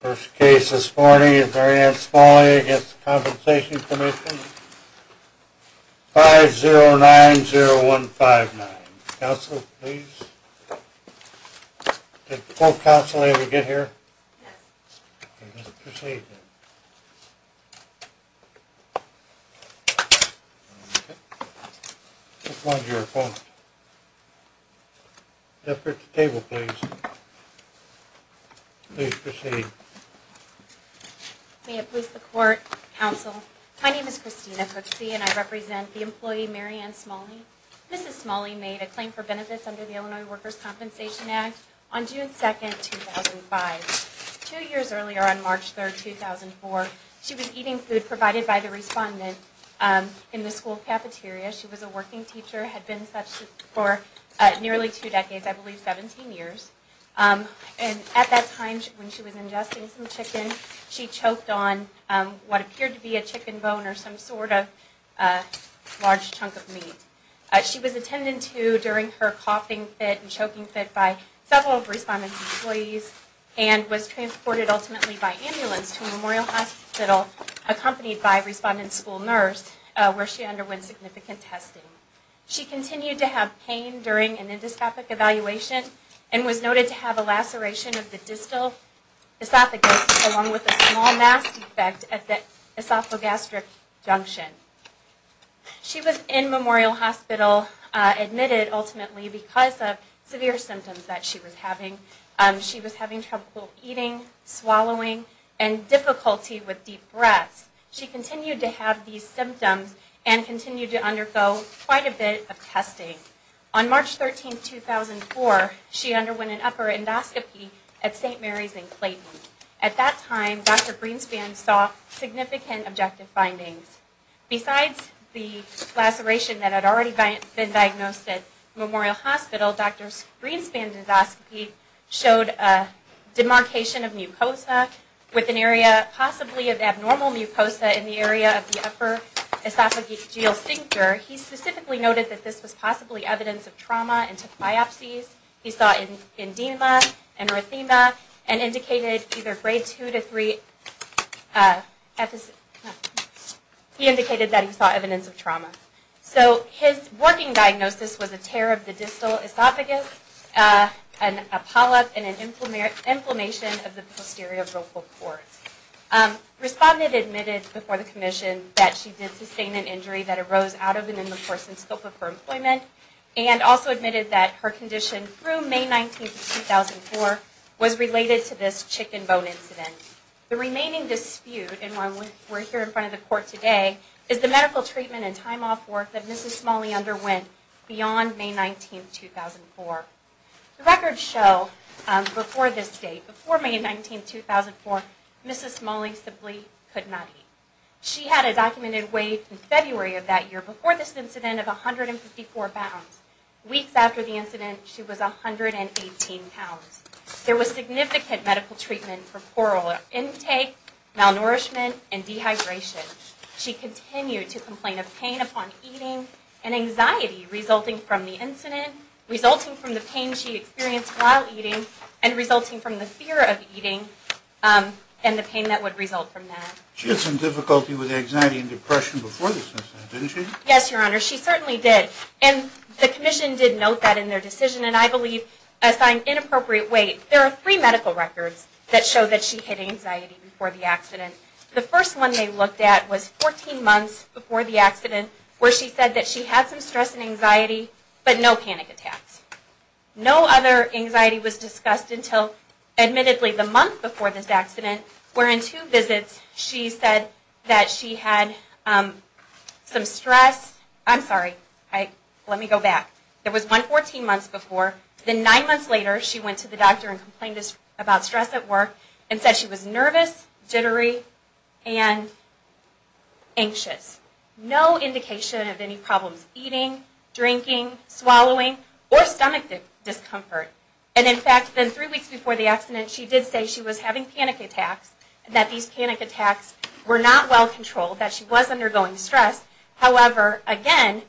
First case this morning is Mary Ann Smalley v. Workers' Compensation Comm'n, 5-0-9-0-1-5-9. Counsel, please. Did the full counsel ever get here? No. Okay, let's proceed then. Which one's your opponent? At the table, please. Please proceed. May it please the Court, Counsel. My name is Christina Cooksey and I represent the employee Mary Ann Smalley. Mrs. Smalley made a claim for benefits under the Illinois Workers' Compensation Act on June 2, 2005. Two years earlier, on March 3, 2004, she was eating food provided by the respondent in the school cafeteria. She was a working teacher, had been such for nearly two decades, I believe 17 years. And at that time when she was ingesting some chicken, she choked on what appeared to be a chicken bone or some sort of large chunk of meat. She was attended to during her coughing fit and choking fit by several of the respondent's employees and was transported ultimately by ambulance to Memorial Hospital, accompanied by a respondent school nurse, where she underwent significant testing. She continued to have pain during an endoscopic evaluation and was noted to have a laceration of the distal esophagus, along with a small mass defect at the esophagastric junction. She was in Memorial Hospital admitted ultimately because of severe symptoms that she was having. She was having trouble eating, swallowing, and difficulty with deep breaths. She continued to have these symptoms and continued to undergo quite a bit of testing. On March 13, 2004, she underwent an upper endoscopy at St. Mary's in Clayton. At that time, Dr. Greenspan saw significant objective findings. Besides the laceration that had already been diagnosed at Memorial Hospital, Dr. Greenspan's endoscopy showed a demarcation of mucosa with an area possibly of abnormal mucosa in the area of the upper esophageal signature. He specifically noted that this was possibly evidence of trauma and took biopsies. He saw edema and erythema and indicated either grade 2 to 3. He indicated that he saw evidence of trauma. So his working diagnosis was a tear of the distal esophagus, a polyp, and an inflammation of the posterior vocal cords. Respondent admitted before the commission that she did sustain an injury that arose out of an in-person scope of her employment and also admitted that her condition through May 19, 2004 was related to this chicken bone incident. The remaining dispute, and why we're here in front of the court today, is the medical treatment and time off work that Mrs. Smalley underwent beyond May 19, 2004. Records show before this date, before May 19, 2004, Mrs. Smalley simply could not eat. She had a documented weight in February of that year before this incident of 154 pounds. Weeks after the incident, she was 118 pounds. There was significant medical treatment for oral intake, malnourishment, and dehydration. She continued to complain of pain upon eating and anxiety resulting from the incident, resulting from the pain she experienced while eating, and resulting from the fear of eating and the pain that would result from that. She had some difficulty with anxiety and depression before this incident, didn't she? Yes, Your Honor, she certainly did. And the commission did note that in their decision, and I believe assigned inappropriate weight. There are three medical records that show that she had anxiety before the accident. The first one they looked at was 14 months before the accident, where she said that she had some stress and anxiety, but no panic attacks. No other anxiety was discussed until, admittedly, the month before this accident, where in two visits she said that she had some stress. I'm sorry, let me go back. It was 14 months before. Then nine months later, she went to the doctor and complained about stress at work, and said she was nervous, jittery, and anxious. No indication of any problems eating, drinking, swallowing, or stomach discomfort. And in fact, then three weeks before the accident, she did say she was having panic attacks, and that these panic attacks were not well controlled, that she was undergoing stress. However, again,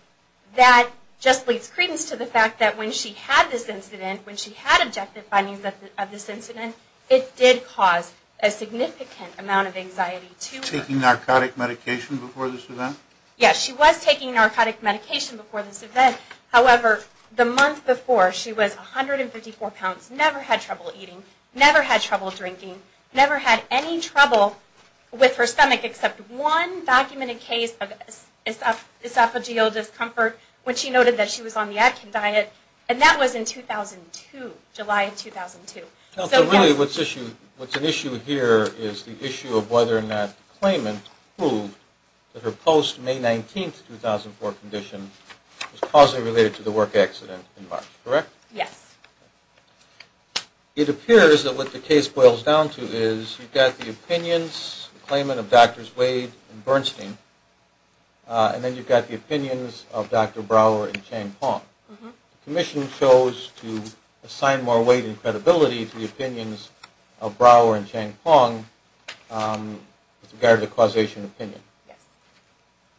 that just leads credence to the fact that when she had this incident, when she had objective findings of this incident, it did cause a significant amount of anxiety to her. Taking narcotic medication before this event? Yes, she was taking narcotic medication before this event. However, the month before, she was 154 pounds, never had trouble eating, never had trouble drinking, never had any trouble with her stomach, except one documented case of esophageal discomfort, when she noted that she was on the Atkin diet, and that was in 2002, July of 2002. So really, what's an issue here is the issue of whether or not the claimant proved that her post-May 19, 2004 condition was causally related to the work accident in March, correct? Yes. It appears that what the case boils down to is you've got the opinions, the claimant of Drs. Wade and Bernstein, and then you've got the opinions of Dr. Brouwer and Chang-Pong. The commission chose to assign more weight and credibility to the opinions of Brouwer and Chang-Pong with regard to the causation opinion. Yes.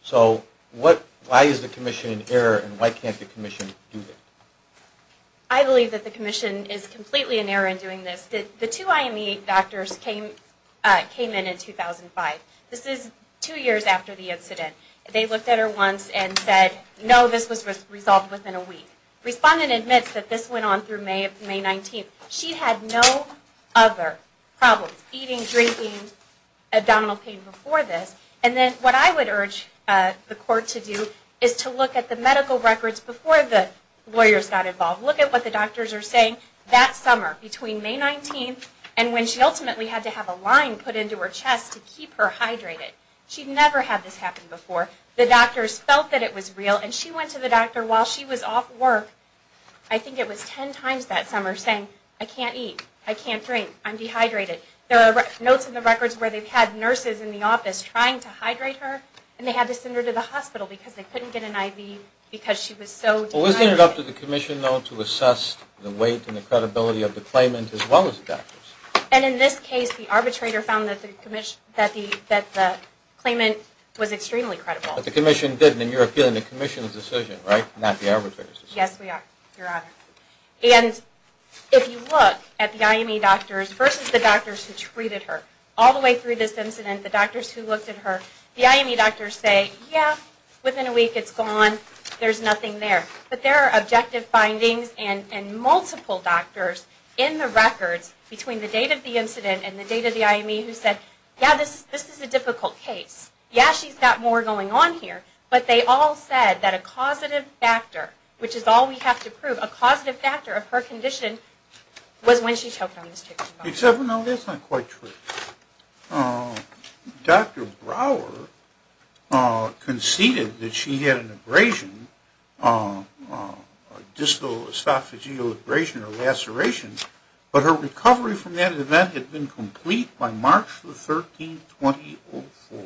So why is the commission in error, and why can't the commission do that? I believe that the commission is completely in error in doing this. The two IME doctors came in in 2005. This is two years after the incident. They looked at her once and said, no, this was resolved within a week. Respondent admits that this went on through May 19. She had no other problems, eating, drinking, abdominal pain, before this. And then what I would urge the court to do is to look at the medical records before the lawyers got involved. Look at what the doctors are saying. That summer, between May 19 and when she ultimately had to have a line put into her chest to keep her hydrated. She'd never had this happen before. The doctors felt that it was real, and she went to the doctor while she was off work, I think it was ten times that summer, saying, I can't eat, I can't drink, I'm dehydrated. There are notes in the records where they've had nurses in the office trying to hydrate her, and they had to send her to the hospital because they couldn't get an IV because she was so dehydrated. Well, was it up to the commission, though, to assess the weight and the credibility of the claimant as well as the doctors? And in this case, the arbitrator found that the claimant was extremely credible. But the commission didn't, and you're appealing to the commission's decision, right? Not the arbitrator's decision. Yes, we are, Your Honor. And if you look at the IME doctors versus the doctors who treated her, all the way through this incident, the doctors who looked at her, the IME doctors say, yeah, within a week it's gone, there's nothing there. But there are objective findings and multiple doctors in the records between the date of the incident and the date of the IME who said, yeah, this is a difficult case. Yeah, she's got more going on here, but they all said that a causative factor, which is all we have to prove, a causative factor of her condition was when she took on this treatment. Except, no, that's not quite true. Dr. Brower conceded that she had an abrasion, a distal esophageal abrasion or laceration, but her recovery from that event had been complete by March 13, 2004,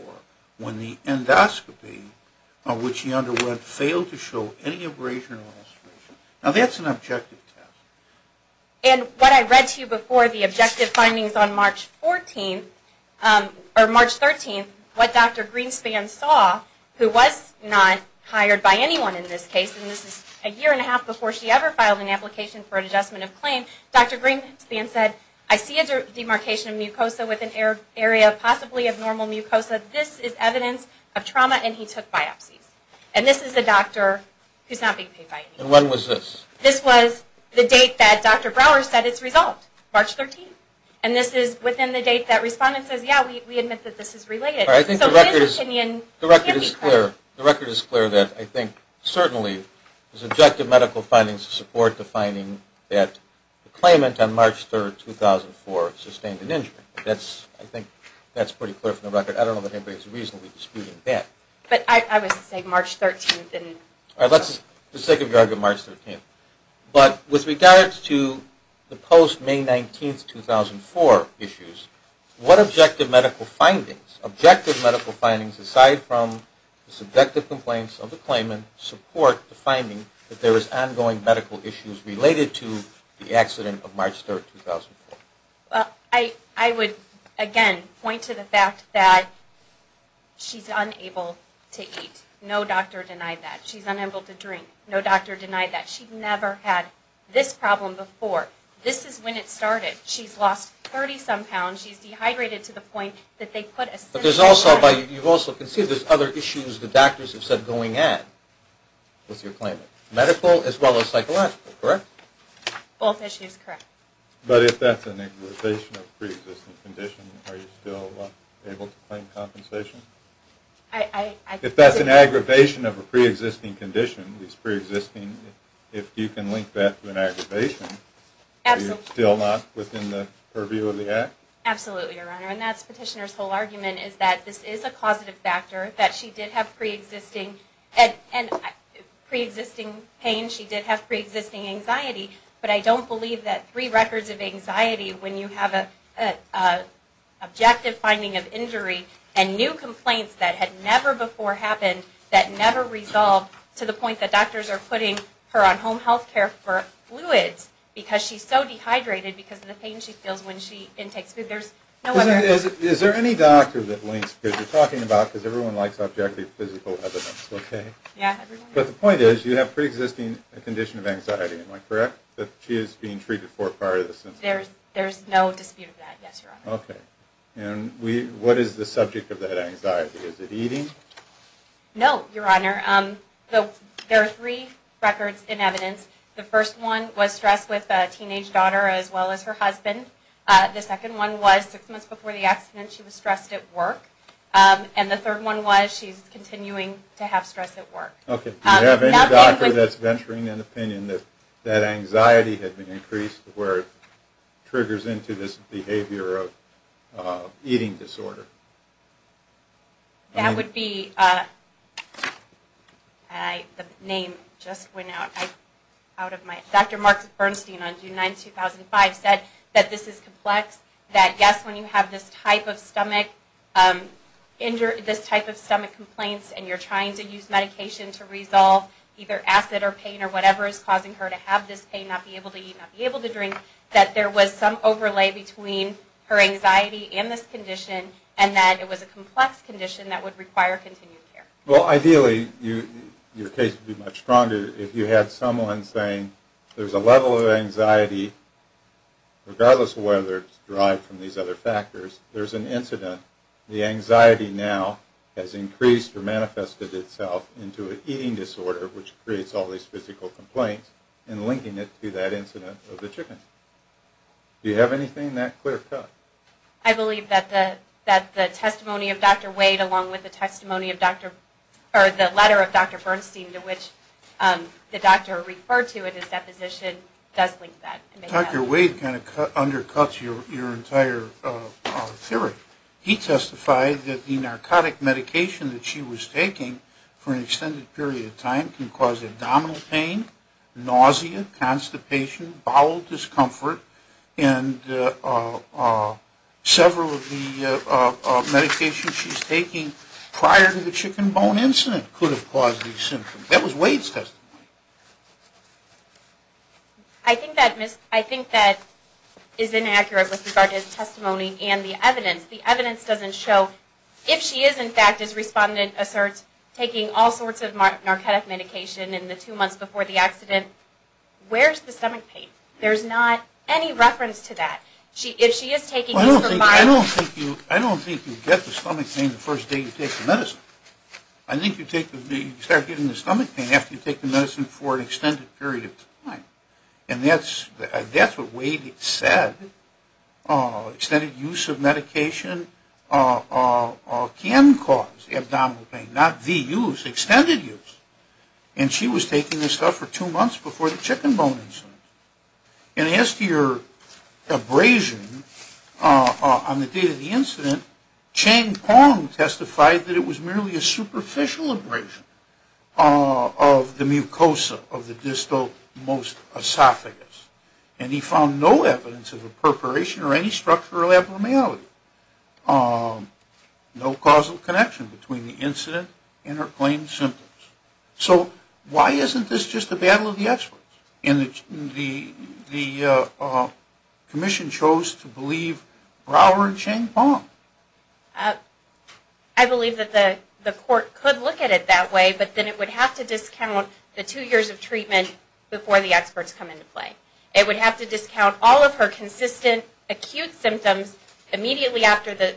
when the endoscopy, which she underwent, failed to show any abrasion or laceration. Now, that's an objective test. And what I read to you before, the objective findings on March 14, or March 13, what Dr. Greenspan saw, who was not hired by anyone in this case, and this is a year and a half before she ever filed an application for an adjustment of claim, Dr. Greenspan said, I see a demarcation of mucosa with an area possibly of normal mucosa. This is evidence of trauma, and he took biopsies. And this is a doctor who's not being paid by anyone. And when was this? This was the date that Dr. Brower said it's resolved, March 13. And this is within the date that respondent says, yeah, we admit that this is related. I think the record is clear. The record is clear that I think certainly there's objective medical findings to support the finding that the claimant on March 3, 2004 sustained an injury. I think that's pretty clear from the record. I don't know that anybody's reasonably disputing that. But I would say March 13 didn't. Let's take a look at March 13. But with regards to the post-May 19, 2004 issues, what objective medical findings, objective medical findings aside from the subjective complaints of the claimant, support the finding that there is ongoing medical issues related to the accident of March 3, 2004? I would, again, point to the fact that she's unable to eat. No doctor denied that. She's unable to drink. No doctor denied that. She's never had this problem before. This is when it started. She's lost 30-some pounds. She's dehydrated to the point that they put a system on her. But you've also conceded there's other issues the doctors have said going in with your claimant, medical as well as psychological, correct? Both issues correct. But if that's an aggravation of a pre-existing condition, are you still able to claim compensation? If that's an aggravation of a pre-existing condition, if you can link that to an aggravation, are you still not within the purview of the act? Absolutely, Your Honor. And that's Petitioner's whole argument is that this is a causative factor, that she did have pre-existing pain, she did have pre-existing anxiety. But I don't believe that three records of anxiety when you have an objective finding of injury and new complaints that had never before happened, that never resolved to the point that doctors are putting her on home health care for fluids because she's so dehydrated because of the pain she feels when she intakes food. Is there any doctor that links, because you're talking about, because everyone likes objective physical evidence, okay? Yeah. But the point is you have pre-existing condition of anxiety, am I correct, that she is being treated for prior to this incident? There's no dispute of that, yes, Your Honor. Okay. And what is the subject of that anxiety? Is it eating? No, Your Honor. There are three records in evidence. The first one was stress with a teenage daughter as well as her husband. The second one was six months before the accident she was stressed at work. And the third one was she's continuing to have stress at work. Okay. Do you have any doctor that's venturing an opinion that that anxiety had been increased to where it triggers into this behavior of eating disorder? That would be, and the name just went out of my, Dr. Mark Bernstein on June 9, 2005 said that this is complex, that yes, when you have this type of stomach, this type of stomach complaints and you're trying to use medication to resolve either acid or pain or whatever is causing her to have this pain, not be able to eat, not be able to drink, that there was some overlay between her anxiety and this condition and that it was a complex condition that would require continued care. Well, ideally your case would be much stronger if you had someone saying there's a level of anxiety regardless of whether it's derived from these other factors. There's an incident. The anxiety now has increased or manifested itself into an eating disorder which creates all these physical complaints and linking it to that incident of the chicken. Do you have anything in that clear cut? I believe that the testimony of Dr. Wade along with the testimony of Dr. or the letter of Dr. Bernstein to which the doctor referred to in his deposition does link that. Dr. Wade kind of undercuts your entire theory. He testified that the narcotic medication that she was taking for an extended period of time can cause abdominal pain, nausea, constipation, bowel discomfort, and several of the medications she's taking prior to the chicken bone incident could have caused these symptoms. That was Wade's testimony. I think that is inaccurate with regard to his testimony and the evidence. The evidence doesn't show. If she is, in fact, as respondent asserts, taking all sorts of narcotic medication in the two months before the accident, where's the stomach pain? There's not any reference to that. If she is taking these for a while. I don't think you get the stomach pain the first day you take the medicine. I think you start getting the stomach pain after you take the medicine for an extended period of time. And that's what Wade said. Extended use of medication can cause abdominal pain. Not the use. Extended use. And she was taking this stuff for two months before the chicken bone incident. And as to your abrasion on the date of the incident, Chang Pong testified that it was merely a superficial abrasion of the mucosa of the distal most esophagus. And he found no evidence of a perforation or any structural abnormality. No causal connection between the incident and her claimed symptoms. So why isn't this just a battle of the experts? The commission chose to believe Robert Chang Pong. I believe that the court could look at it that way, but then it would have to discount the two years of treatment before the experts come into play. It would have to discount all of her consistent acute symptoms immediately after the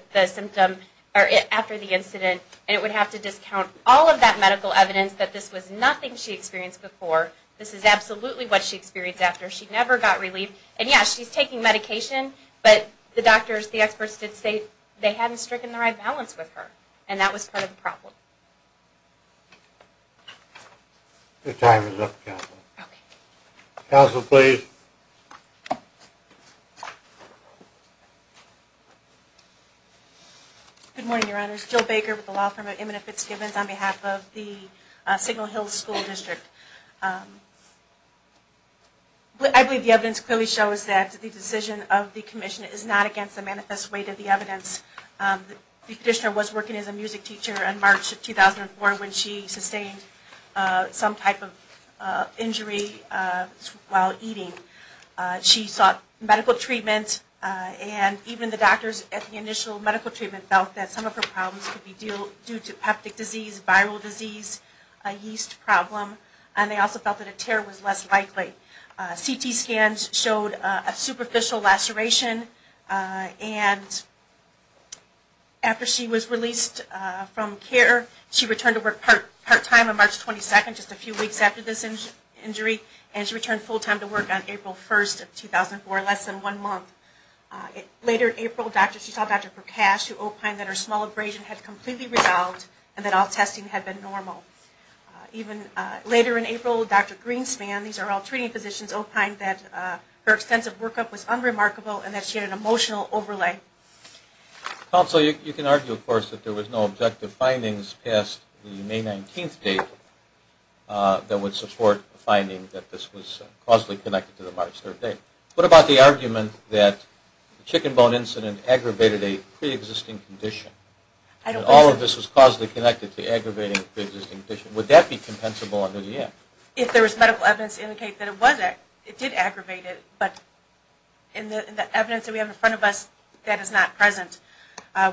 incident, and it would have to discount all of that medical evidence that this was nothing she experienced before. This is absolutely what she experienced after. She never got relieved. And, yes, she's taking medication, but the doctors, the experts, did say they hadn't stricken the right balance with her, and that was part of the problem. Your time is up, counsel. Okay. Counsel, please. Good morning, Your Honors. My name is Jill Baker with the law firm of Eminent Fitzgibbons on behalf of the Signal Hills School District. I believe the evidence clearly shows that the decision of the commission is not against the manifest weight of the evidence. The petitioner was working as a music teacher in March of 2004 when she sustained some type of injury while eating. She sought medical treatment, and even the doctors at the initial medical treatment felt that some of her problems could be due to peptic disease, viral disease, a yeast problem, and they also felt that a tear was less likely. CT scans showed a superficial laceration, and after she was released from care, she returned to work part-time on March 22nd, just a few weeks after this injury, and she returned full-time to work on April 1st of 2004, less than one month. Later in April, she saw Dr. Prakash, who opined that her small abrasion had completely resolved and that all testing had been normal. Later in April, Dr. Greenspan, these are all treating physicians, opined that her extensive workup was unremarkable and that she had an emotional overlay. Counsel, you can argue, of course, that there was no objective findings past the May 19th date that would support the finding that this was causally connected to the March 3rd date. What about the argument that the chicken bone incident aggravated a pre-existing condition, and all of this was causally connected to aggravating a pre-existing condition? Would that be compensable under the act? If there was medical evidence to indicate that it was, it did aggravate it, but in the evidence that we have in front of us, that is not present.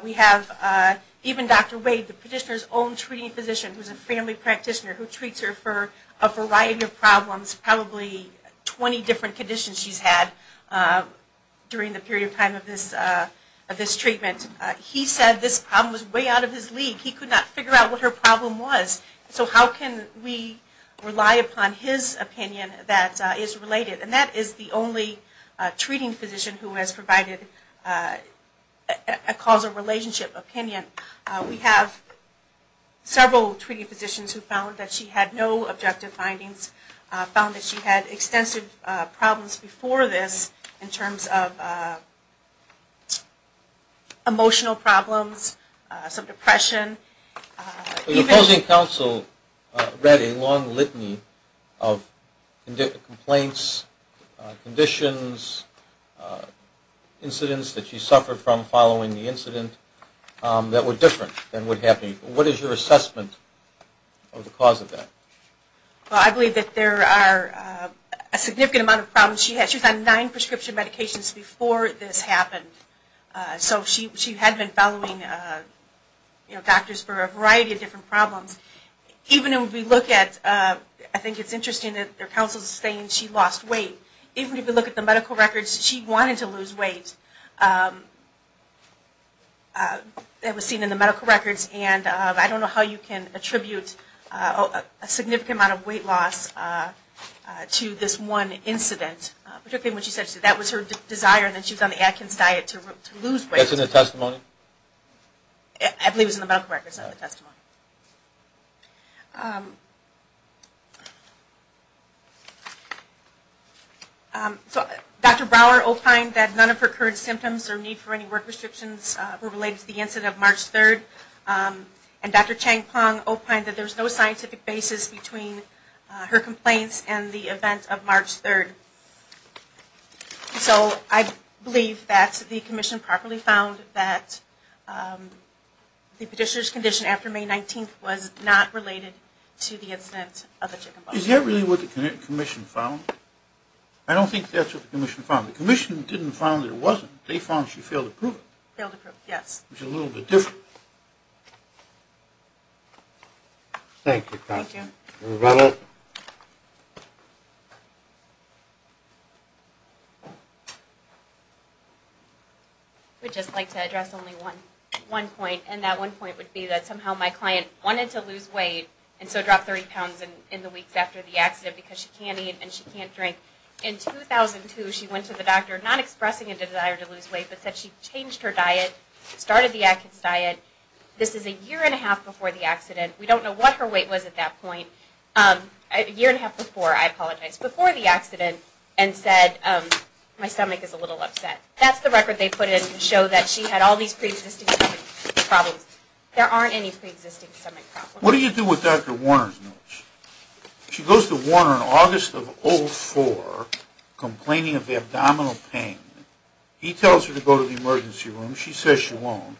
We have even Dr. Wade, the petitioner's own treating physician, who's a family practitioner who treats her for a variety of problems, it's probably 20 different conditions she's had during the period of time of this treatment. He said this problem was way out of his league. He could not figure out what her problem was. So how can we rely upon his opinion that is related? And that is the only treating physician who has provided a causal relationship opinion. We have several treating physicians who found that she had no objective findings and found that she had extensive problems before this in terms of emotional problems, some depression. The opposing counsel read a long litany of complaints, conditions, incidents that she suffered from following the incident that were different than what happened. What is your assessment of the cause of that? Well, I believe that there are a significant amount of problems. She was on nine prescription medications before this happened. So she had been following doctors for a variety of different problems. Even if we look at, I think it's interesting that their counsel is saying she lost weight. Even if you look at the medical records, she wanted to lose weight. That was seen in the medical records, and I don't know how you can attribute a significant amount of weight loss to this one incident, particularly when she said that was her desire and that she was on the Atkins diet to lose weight. That's in the testimony? I believe it was in the medical records, not the testimony. So Dr. Brower opined that none of her current symptoms or need for any work restrictions were related to the incident of March 3rd. And Dr. Chang-Pong opined that there was no scientific basis between her complaints and the event of March 3rd. So I believe that the commission properly found that the petitioner's condition after May 19th was not related to the incident of the chicken bun. Is that really what the commission found? I don't think that's what the commission found. The commission didn't find that it wasn't. They found she failed to prove it. Failed to prove it, yes. Which is a little bit different. Thank you, Constance. Thank you. Rebecca? I would just like to address only one point, and that one point would be that somehow my client wanted to lose weight and so dropped 30 pounds in the weeks after the accident because she can't eat and she can't drink. In 2002 she went to the doctor, not expressing a desire to lose weight, but said she changed her diet, started the Atkins diet. This is a year and a half before the accident. We don't know what her weight was at that point. A year and a half before, I apologize, before the accident, and said my stomach is a little upset. That's the record they put in to show that she had all these preexisting stomach problems. There aren't any preexisting stomach problems. What do you do with Dr. Warner's notes? She goes to Warner in August of 2004, complaining of abdominal pain. He tells her to go to the emergency room. She says she won't.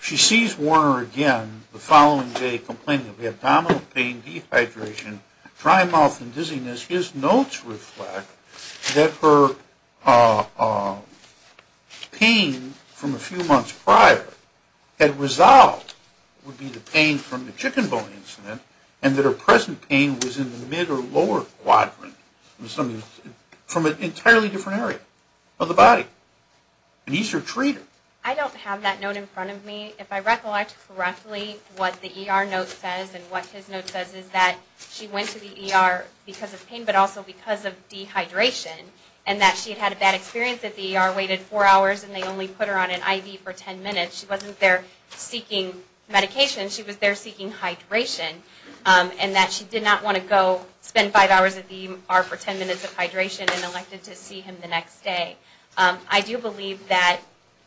She sees Warner again the following day, complaining of abdominal pain, dehydration, dry mouth and dizziness. His notes reflect that her pain from a few months prior had resolved would be the pain from the chicken bone incident and that her present pain was in the mid or lower quadrant from an entirely different area of the body. And he's her treater. I don't have that note in front of me. If I recollect correctly, what the ER note says and what his note says is that she went to the ER because of pain, but also because of dehydration, and that she had had a bad experience at the ER, waited four hours and they only put her on an IV for ten minutes. She wasn't there seeking medication. She was there seeking hydration, and that she did not want to go spend five hours at the ER for ten minutes of hydration and elected to see him the next day. I do believe that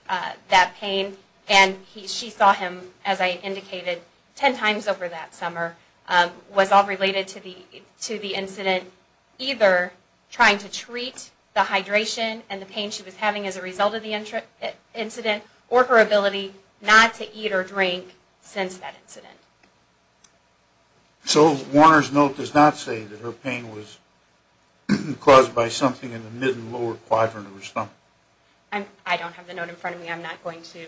that pain, and she saw him, as I indicated, ten times over that summer, was all related to the incident and either trying to treat the hydration and the pain she was having as a result of the incident or her ability not to eat or drink since that incident. So Warner's note does not say that her pain was caused by something in the mid and lower quadrant of her stomach? I don't have the note in front of me. I'm not going to...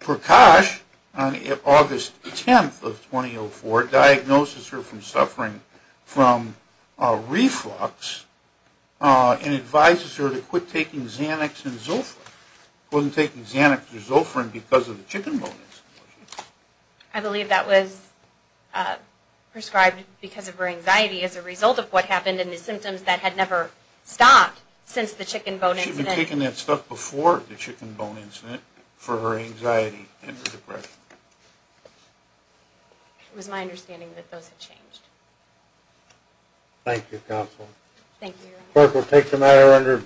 Prakash, on August 10th of 2004, diagnoses her from suffering from reflux and advises her to quit taking Xanax and Zofran. She wasn't taking Xanax or Zofran because of the chicken bone incident. I believe that was prescribed because of her anxiety as a result of what happened and the symptoms that had never stopped since the chicken bone incident. She had been taking that stuff before the chicken bone incident for her anxiety and her depression. It was my understanding that those had changed. Thank you, Counsel. Thank you, Your Honor.